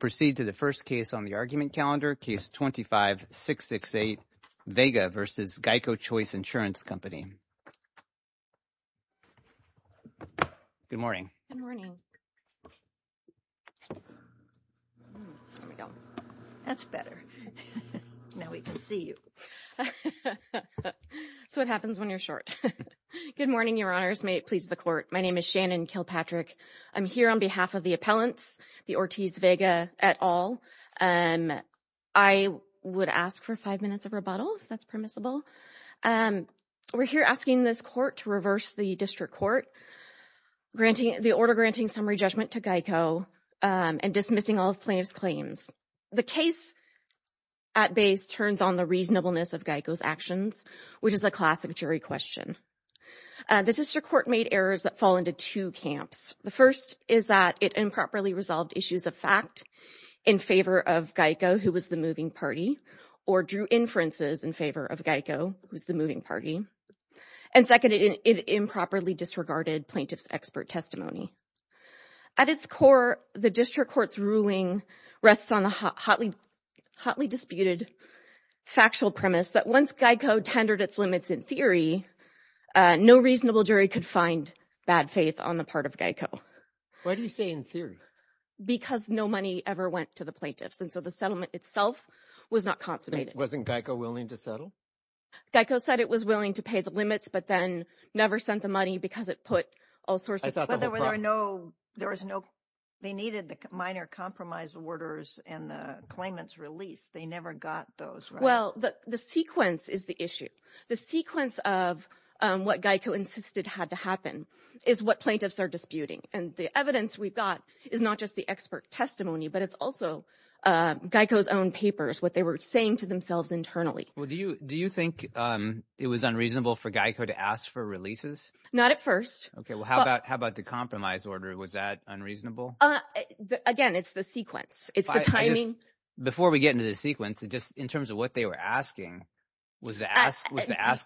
Proceed to the first case on the argument calendar, Case 25-668, Vega v. GEICO Choice Insurance Company. Good morning. Good morning. That's better. Now we can see you. That's what happens when you're short. Good morning, Your Honors. May it please the Court. My name is Shannon Kilpatrick. I'm here on behalf of the appellants, the Ortiz-Vega et al. I would ask for five minutes of rebuttal, if that's permissible. We're here asking this Court to reverse the District Court, granting the order granting summary judgment to GEICO, and dismissing all plaintiff's claims. The case at base turns on the reasonableness of GEICO's actions, which is a classic jury question. The District Court made errors that fall into two camps. The first is that it improperly resolved issues of fact in favor of GEICO, who was the moving party, or drew inferences in favor of GEICO, who's the moving party. And second, it improperly disregarded plaintiff's expert testimony. At its core, the District Court's ruling rests on the hotly disputed factual premise that once GEICO tendered its limits in theory, no reasonable jury could find bad faith on the part of GEICO. Why do you say in theory? Because no money ever went to the plaintiffs, and so the settlement itself was not consummated. Wasn't GEICO willing to settle? GEICO said it was willing to pay the limits, but then never sent the money because it put all sorts of... I thought there were no... They needed the minor compromise orders and the claimant's release. They never got those, right? Well, the sequence is the issue. The sequence of what GEICO insisted had to happen is what plaintiffs are disputing. And the evidence we've got is not just the expert testimony, but it's also GEICO's own papers, what they were saying to themselves internally. Well, do you think it was unreasonable for GEICO to ask for releases? Not at first. Okay, well, how about the compromise order? Was that unreasonable? Again, it's the sequence. It's the timing. Before we get into the sequence, just in terms of what they were asking, was the ask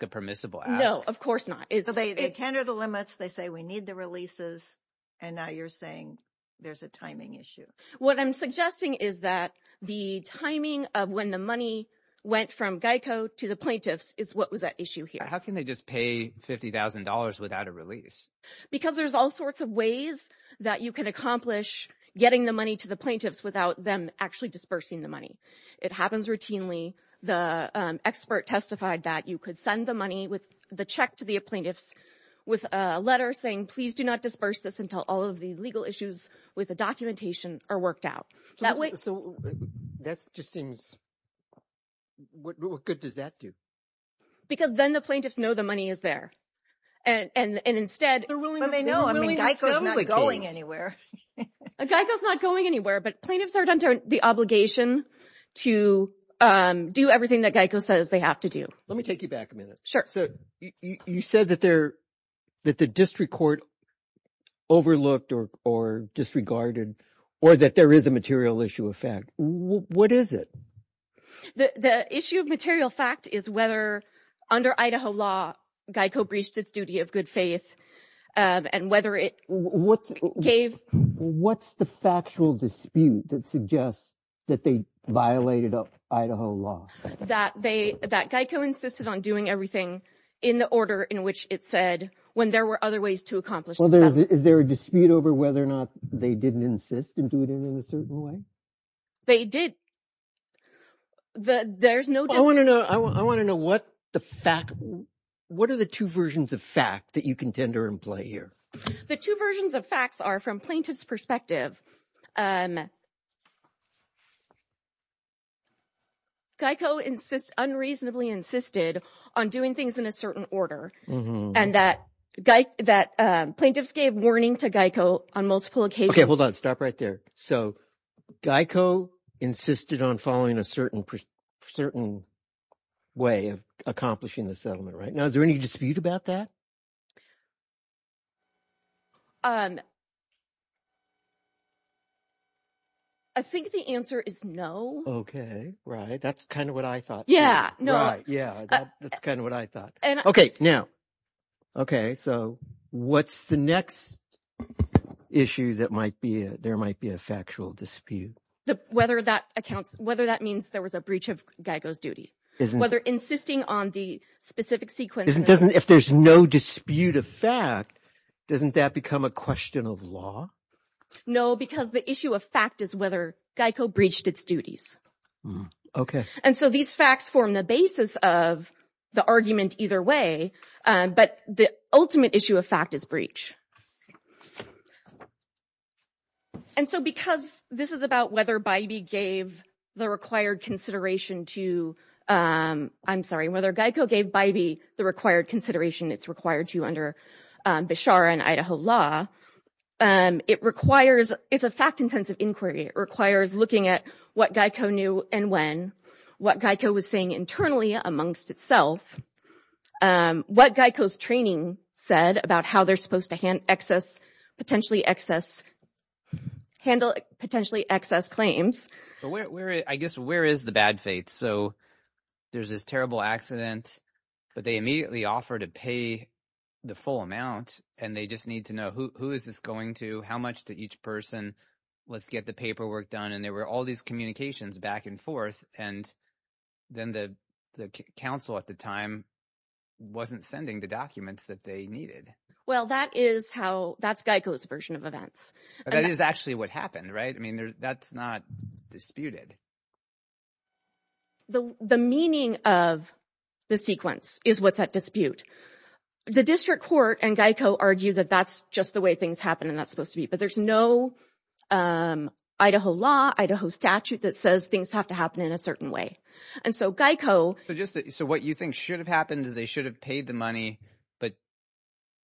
a permissible ask? No, of course not. So they tender the limits, they say we need the releases, and now you're saying there's a timing issue. What I'm suggesting is that the timing of when the money went from GEICO to the plaintiffs is what was at issue here. How can they just pay $50,000 without a release? Because there's all sorts of ways that you can accomplish getting the money to the plaintiffs without them actually dispersing the money. It happens routinely. The expert testified that you could send the money, the check to the plaintiffs with a letter saying, please do not disperse this until all of the legal issues with the documentation are worked out. So that just seems... What good does that do? Because then the plaintiffs know the money is there. And instead... GEICO's not going anywhere. GEICO's not going anywhere, but plaintiffs are under the obligation to do everything that GEICO says they have to do. Let me take you back a minute. You said that the district court overlooked or disregarded or that there is a material issue of fact. What is it? The issue of material fact is whether under Idaho law, GEICO breached its duty of good faith and whether it gave... What's the factual dispute that suggests that they violated Idaho law? That GEICO insisted on doing everything in the order in which it said when there were other ways to accomplish... Is there a dispute over whether or not they didn't insist and do it in a certain way? They did. There's no dispute. I want to know what the fact... What are the two versions of fact that you contender and play here? The two versions of facts are from plaintiff's perspective. GEICO unreasonably insisted on doing things in a certain order and that plaintiffs gave warning to GEICO on multiple occasions. Okay, hold on. Stop right there. So GEICO insisted on following a certain way of accomplishing the settlement, right? Now, is there any dispute about that? I think the answer is no. Okay, right. That's kind of what I thought. Right, yeah. That's kind of what I thought. Okay, now. Okay, so what's the next issue that might be... There might be a factual dispute? Whether that means there was a breach of GEICO's duty. Whether insisting on the specific sequence... If there's no dispute of fact, doesn't that become a question of law? No, because the issue of fact is whether GEICO breached its duties. Okay. And so these facts form the basis of the argument either way, but the ultimate issue of fact is breach. And so because this is about whether Bybee gave the required consideration to... I'm sorry, whether GEICO gave Bybee the required consideration it's required to under Beshara and Idaho law, it requires... It's a fact-intensive inquiry. It requires looking at what GEICO knew and when, what GEICO was saying internally amongst itself, what GEICO's training said about how they're supposed to handle potentially excess claims. I guess where is the bad faith? So there's this terrible accident, but they immediately offer to pay the full amount and they just need to know who is this going to, how much to each person, let's get the paperwork done. And there were all these communications back and forth. And then the council at the time wasn't sending the documents that they needed. Well, that is how... That's GEICO's version of events. That is actually what happened, right? I mean, that's not disputed. The meaning of the sequence is what's at dispute. The district court and GEICO argue that that's just the way things happen and that's supposed to be, but there's no Idaho law, Idaho statute that says things have to happen in a certain way. And so GEICO... So what you think should have happened is they should have paid the money, but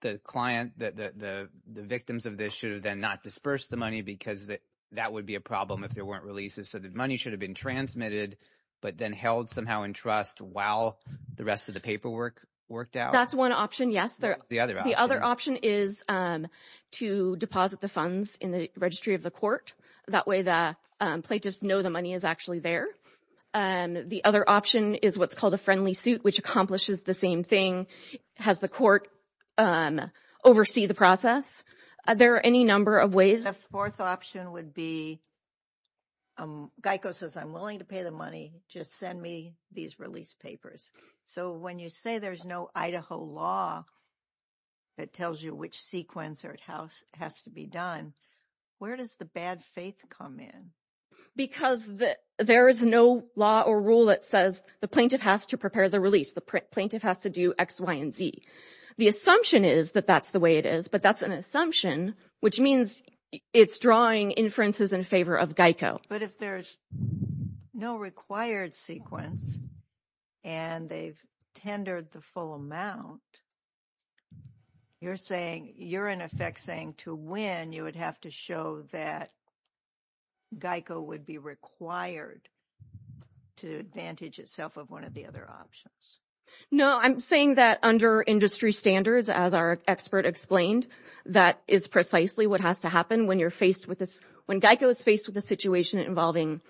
the client, the victims of this should have then not dispersed the money because that would be a problem if there weren't releases. So the money should have been transmitted, but then held somehow in trust while the rest of the paperwork worked out? That's one option, yes. The other option is to deposit the funds in the registry of the court. That way the plaintiffs know the money is actually there. The other option is what's called a friendly suit, which accomplishes the same thing. Has the court oversee the process? Are there any number of ways? The fourth option would be, GEICO says, I'm willing to pay the money, just send me these release papers. So when you say there's no Idaho law that tells you which sequence has to be done, where does the bad faith come in? Because there is no law or rule that says the plaintiff has to prepare the release. The plaintiff has to do X, Y, and Z. The assumption is that that's the way it is, but that's an assumption, which means it's drawing inferences in favor of GEICO. But if there's no required sequence and they've tendered the full amount, you're in effect saying to win, you would have to show that GEICO would be required to advantage itself of one of the other options. No, I'm saying that under industry standards, as our expert explained, that is precisely what has to happen when you're faced with this. When GEICO is faced with a situation involving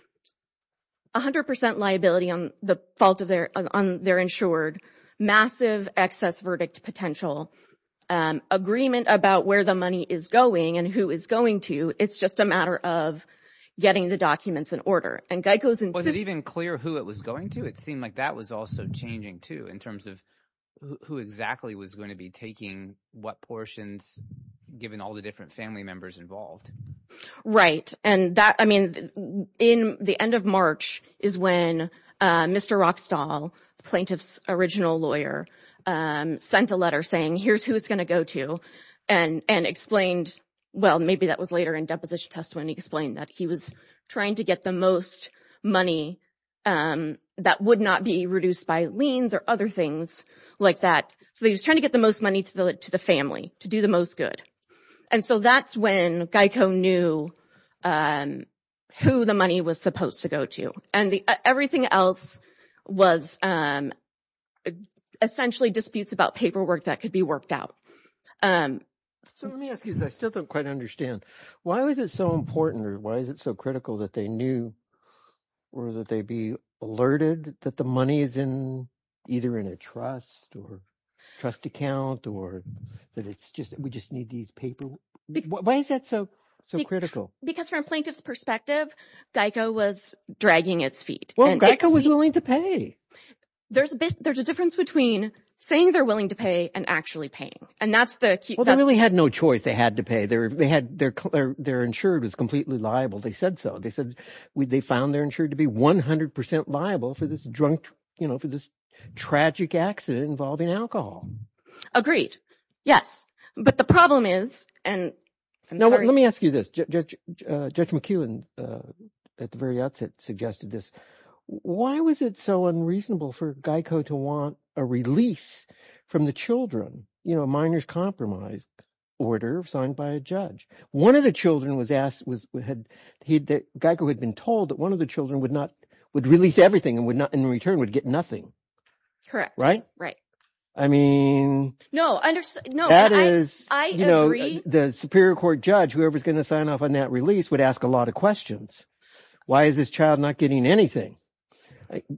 100 percent liability on the fault of their insured, massive excess verdict potential, agreement about where the money is going and who is going to, it's just a matter of getting the documents in order. Was it even clear who it was going to? It seemed like that was also changing, too, in terms of who exactly was going to be taking what portions, given all the different family members involved. Right. The end of March is when Mr. Rockstall, the plaintiff's original lawyer, sent a letter saying here's who it's going to go to and explained, well, maybe that was later in deposition testimony, explained that he was trying to get the most money that would not be reduced by liens or other things like that. So he was trying to get the most money to the family to do the most good. And so that's when GEICO knew who the money was supposed to go to. And everything else was essentially disputes about paperwork that could be worked out. So let me ask you this. I still don't quite understand. Why was it so important or why is it so critical that they knew or that they be alerted that the money is either in a trust or trust account or that we just need these paperwork? Why is that so critical? Because from a plaintiff's perspective, GEICO was dragging its feet. Well, GEICO was willing to pay. There's a difference between saying they're willing to pay and actually paying, and that's the key. Well, they really had no choice. They had to pay. Their insurer was completely liable. They said so. They found their insurer to be 100 percent liable for this tragic accident involving alcohol. Agreed. Yes. But the problem is and I'm sorry. Let me ask you this. Judge McEwen at the very outset suggested this. Why was it so unreasonable for GEICO to want a release from the children, you know, a minor's compromise order signed by a judge? One of the children was asked, GEICO had been told that one of the children would release everything and in return would get nothing. Correct. I mean, that is, you know, the superior court judge, whoever is going to sign off on that release would ask a lot of questions. Why is this child not getting anything?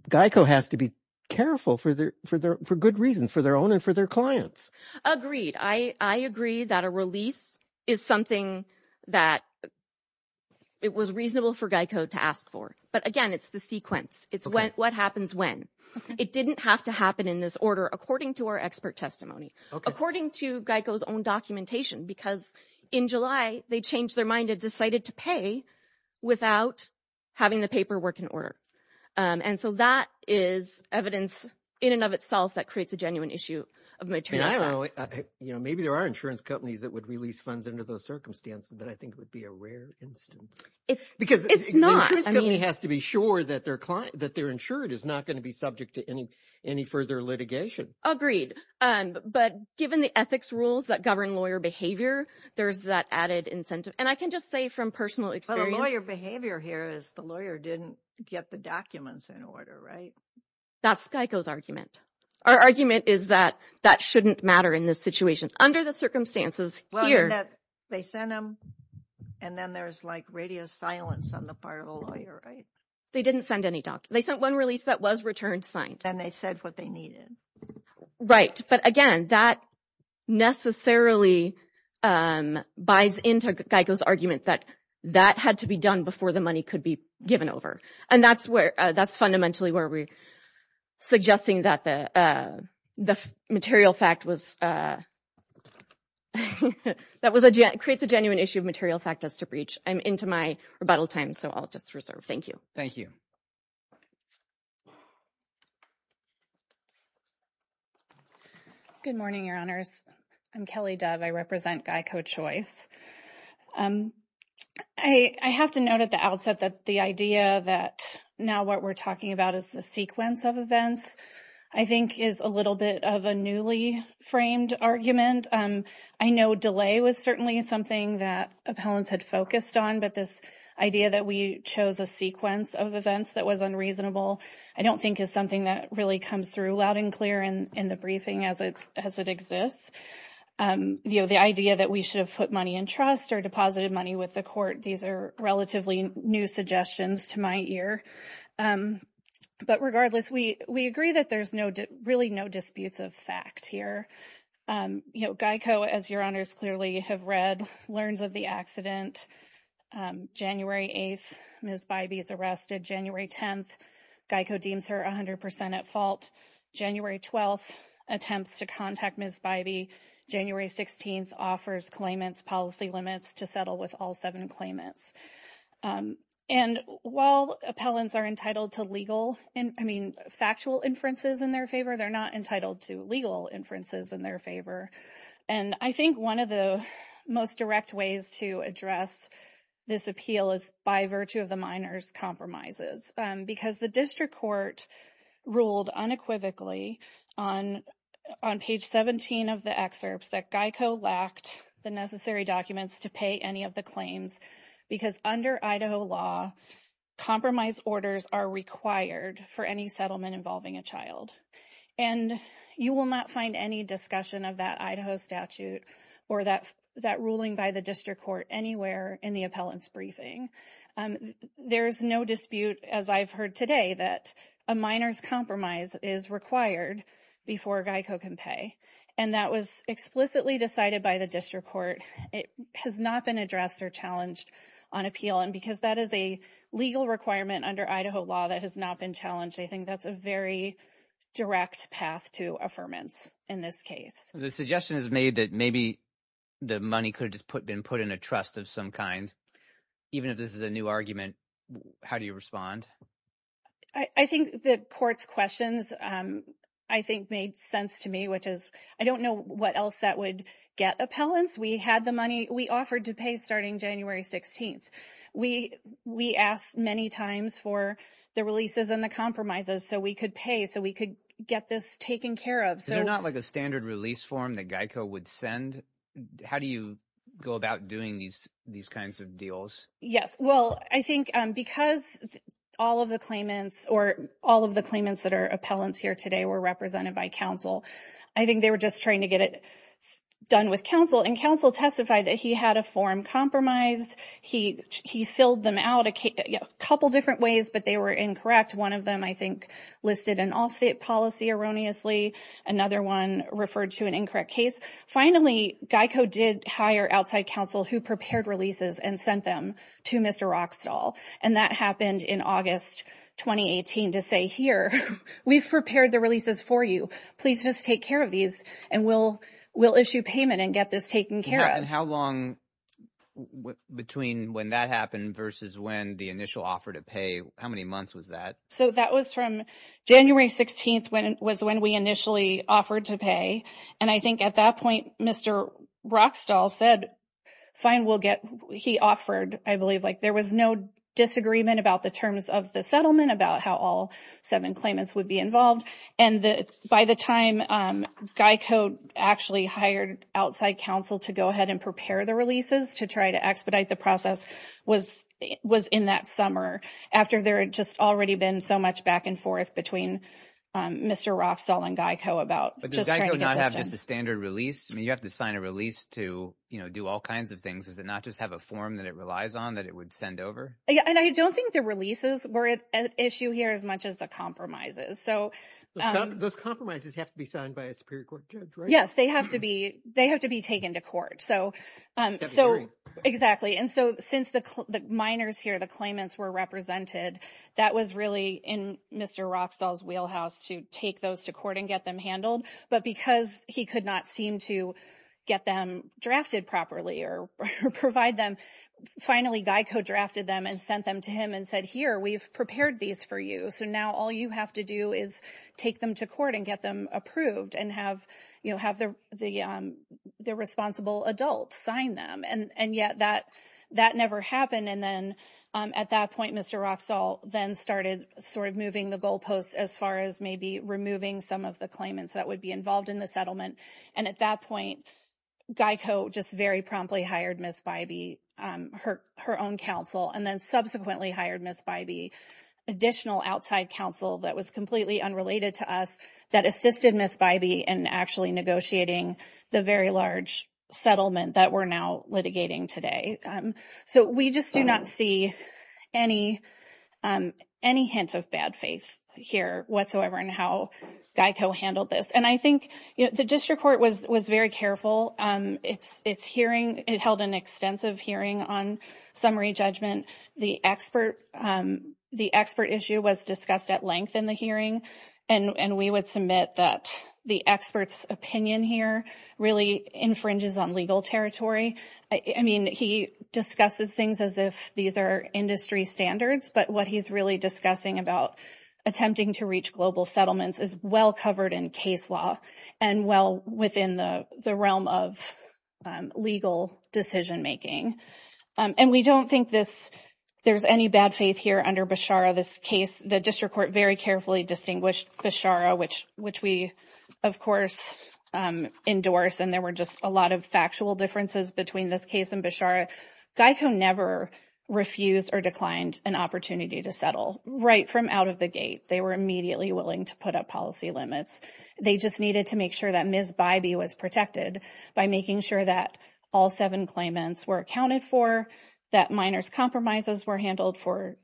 GEICO has to be careful for good reasons, for their own and for their clients. Agreed. I agree that a release is something that it was reasonable for GEICO to ask for. But, again, it's the sequence. It's what happens when. It didn't have to happen in this order according to our expert testimony, according to GEICO's own documentation, because in July they changed their mind and decided to pay without having the paperwork in order. And so that is evidence in and of itself that creates a genuine issue of maternity. Maybe there are insurance companies that would release funds under those circumstances, but I think it would be a rare instance. It's not. Because the insurance company has to be sure that their client, that their insured is not going to be subject to any further litigation. Agreed. But given the ethics rules that govern lawyer behavior, there's that added incentive. And I can just say from personal experience. But a lawyer behavior here is the lawyer didn't get the documents in order, right? That's GEICO's argument. Our argument is that that shouldn't matter in this situation. Under the circumstances here. They sent them and then there's like radio silence on the part of a lawyer, right? They didn't send any documents. They sent one release that was return signed. And they said what they needed. Right. But, again, that necessarily buys into GEICO's argument that that had to be done before the money could be given over. And that's fundamentally where we're suggesting that the material fact was. That creates a genuine issue of material fact as to breach. I'm into my rebuttal time, so I'll just reserve. Thank you. Thank you. Good morning, Your Honors. I'm Kelly Dove. I represent GEICO Choice. I have to note at the outset that the idea that now what we're talking about is the sequence of events, I think, is a little bit of a newly framed argument. I know delay was certainly something that appellants had focused on. But this idea that we chose a sequence of events that was unreasonable, I don't think, is something that really comes through loud and clear in the briefing as it exists. The idea that we should have put money in trust or deposited money with the court, these are relatively new suggestions to my ear. But, regardless, we agree that there's really no disputes of fact here. GEICO, as Your Honors clearly have read, learns of the accident. January 8th, Ms. Bybee is arrested. January 10th, GEICO deems her 100% at fault. January 12th, attempts to contact Ms. Bybee. January 16th, offers claimants policy limits to settle with all seven claimants. And while appellants are entitled to legal and, I mean, factual inferences in their favor, they're not entitled to legal inferences in their favor. And I think one of the most direct ways to address this appeal is by virtue of the minor's compromises. Because the district court ruled unequivocally on page 17 of the excerpts that GEICO lacked the necessary documents to pay any of the claims because under Idaho law, compromise orders are required for any settlement involving a child. And you will not find any discussion of that Idaho statute or that ruling by the district court anywhere in the appellant's briefing. There is no dispute, as I've heard today, that a minor's compromise is required before GEICO can pay. And that was explicitly decided by the district court. It has not been addressed or challenged on appeal. And because that is a legal requirement under Idaho law that has not been challenged, I think that's a very direct path to affirmance in this case. The suggestion is made that maybe the money could have just been put in a trust of some kind. Even if this is a new argument, how do you respond? I think the court's questions I think made sense to me, which is I don't know what else that would get appellants. We had the money. We offered to pay starting January 16th. We asked many times for the releases and the compromises so we could pay, so we could get this taken care of. Is there not like a standard release form that GEICO would send? How do you go about doing these kinds of deals? Yes, well, I think because all of the claimants or all of the claimants that are appellants here today were represented by counsel, I think they were just trying to get it done with counsel. And counsel testified that he had a form compromised. He filled them out a couple different ways, but they were incorrect. One of them I think listed an all-state policy erroneously. Another one referred to an incorrect case. Finally, GEICO did hire outside counsel who prepared releases and sent them to Mr. Roxtal, and that happened in August 2018 to say, here, we've prepared the releases for you. Please just take care of these, and we'll issue payment and get this taken care of. And how long between when that happened versus when the initial offer to pay, how many months was that? So that was from January 16th was when we initially offered to pay, and I think at that point, Mr. Roxtal said, fine, we'll get. He offered, I believe, like there was no disagreement about the terms of the settlement about how all seven claimants would be involved. And by the time GEICO actually hired outside counsel to go ahead and prepare the releases to try to expedite the process was in that summer after there had just already been so much back and forth between Mr. Roxtal and GEICO about just trying to get this done. But does GEICO not have just a standard release? I mean, you have to sign a release to do all kinds of things. Does it not just have a form that it relies on that it would send over? And I don't think the releases were an issue here as much as the compromises. Those compromises have to be signed by a Superior Court judge, right? Yes. They have to be taken to court. So exactly. And so since the minors here, the claimants, were represented, that was really in Mr. Roxtal's wheelhouse to take those to court and get them handled. But because he could not seem to get them drafted properly or provide them, finally GEICO drafted them and sent them to him and said, here, we've prepared these for you. So now all you have to do is take them to court and get them approved and have the responsible adult sign them. And yet that never happened. And then at that point Mr. Roxtal then started sort of moving the goalposts as far as maybe removing some of the claimants that would be involved in the settlement. And at that point GEICO just very promptly hired Ms. Bybee, her own counsel, and then subsequently hired Ms. Bybee, additional outside counsel that was completely unrelated to us that assisted Ms. Bybee in actually negotiating the very large settlement that we're now litigating today. So we just do not see any hint of bad faith here whatsoever in how GEICO handled this. And I think the district court was very careful. It held an extensive hearing on summary judgment. The expert issue was discussed at length in the hearing. And we would submit that the expert's opinion here really infringes on legal territory. I mean, he discusses things as if these are industry standards, but what he's really discussing about attempting to reach global settlements is well covered in case law and well within the realm of legal decision making. And we don't think there's any bad faith here under Beshara. The district court very carefully distinguished Beshara, which we, of course, endorse. And there were just a lot of factual differences between this case and Beshara. GEICO never refused or declined an opportunity to settle. Right from out of the gate, they were immediately willing to put up policy limits. They just needed to make sure that Ms. Bybee was protected by making sure that all seven claimants were accounted for, that minors' compromises were handled for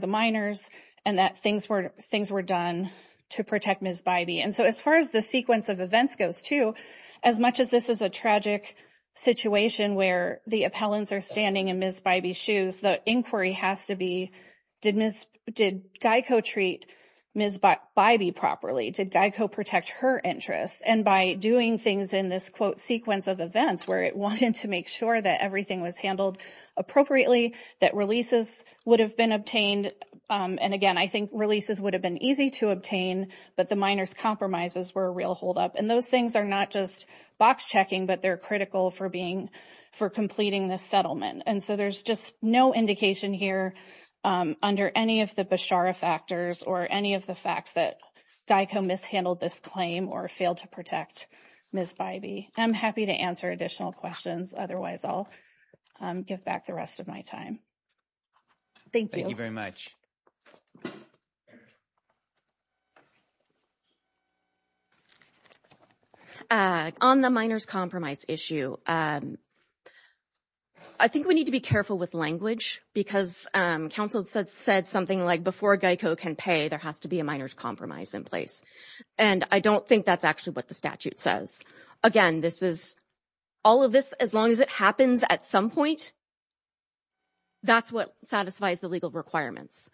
the minors, and that things were done to protect Ms. Bybee. And so as far as the sequence of events goes, too, as much as this is a tragic situation where the appellants are standing in Ms. Bybee's shoes, the inquiry has to be, did GEICO treat Ms. Bybee properly? Did GEICO protect her interests? And by doing things in this, quote, sequence of events, where it wanted to make sure that everything was handled appropriately, that releases would have been obtained. And, again, I think releases would have been easy to obtain, but the minors' compromises were a real holdup. And those things are not just box checking, but they're critical for completing this settlement. And so there's just no indication here under any of the Beshara factors or any of the facts that GEICO mishandled this claim or failed to protect Ms. Bybee. I'm happy to answer additional questions. Otherwise, I'll give back the rest of my time. Thank you. Thank you very much. On the minors' compromise issue, I think we need to be careful with language because counsel said something like before GEICO can pay, there has to be a minors' compromise in place. And I don't think that's actually what the statute says. Again, this is, all of this, as long as it happens at some point, that's what satisfies the legal requirements.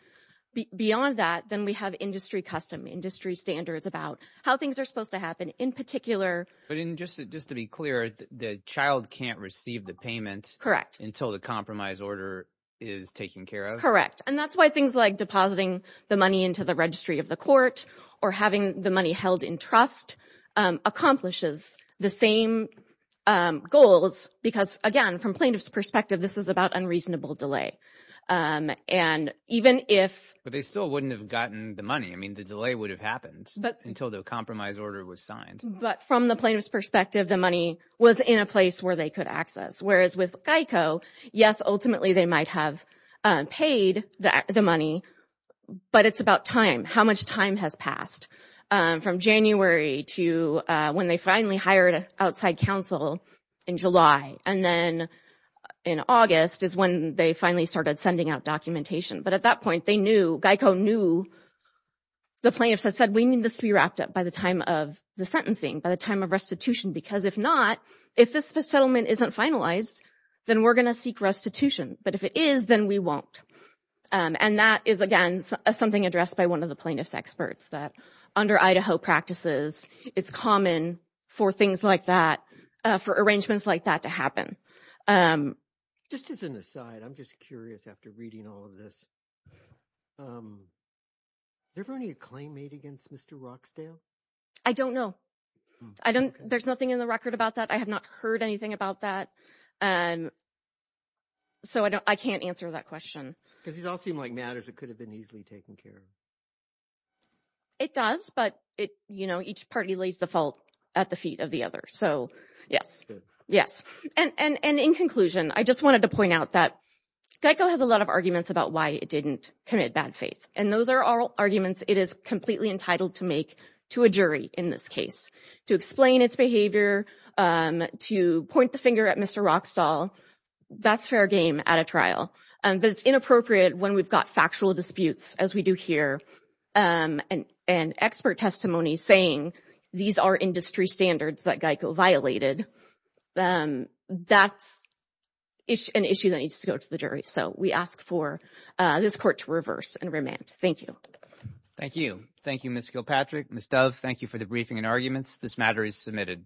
Beyond that, then we have industry custom, industry standards about how things are supposed to happen in particular. But just to be clear, the child can't receive the payment until the compromise order is taken care of? Correct. And that's why things like depositing the money into the registry of the court or having the money held in trust accomplishes the same goals because, again, from plaintiff's perspective, this is about unreasonable delay. But they still wouldn't have gotten the money. I mean, the delay would have happened until the compromise order was signed. But from the plaintiff's perspective, the money was in a place where they could access. Whereas with GEICO, yes, ultimately they might have paid the money, but it's about time, how much time has passed. From January to when they finally hired an outside counsel in July. And then in August is when they finally started sending out documentation. But at that point, they knew, GEICO knew, the plaintiffs had said, we need this to be wrapped up by the time of the sentencing, by the time of restitution. Because if not, if this settlement isn't finalized, then we're going to seek restitution. But if it is, then we won't. And that is, again, something addressed by one of the plaintiff's experts, that under Idaho practices, it's common for things like that, for arrangements like that to happen. Just as an aside, I'm just curious after reading all of this, is there any claim made against Mr. Roxdale? I don't know. There's nothing in the record about that. I have not heard anything about that. So I can't answer that question. Because it all seemed like matters that could have been easily taken care of. It does, but, you know, each party lays the fault at the feet of the other. So, yes, yes. And in conclusion, I just wanted to point out that GEICO has a lot of arguments about why it didn't commit bad faith. And those are all arguments it is completely entitled to make to a jury in this case, to explain its behavior, to point the finger at Mr. Roxdale. That's fair game at a trial. But it's inappropriate when we've got factual disputes, as we do here, and expert testimony saying these are industry standards that GEICO violated. That's an issue that needs to go to the jury. So we ask for this court to reverse and remand. Thank you. Thank you. Thank you, Ms. Kilpatrick. Ms. Dove, thank you for the briefing and arguments. This matter is submitted.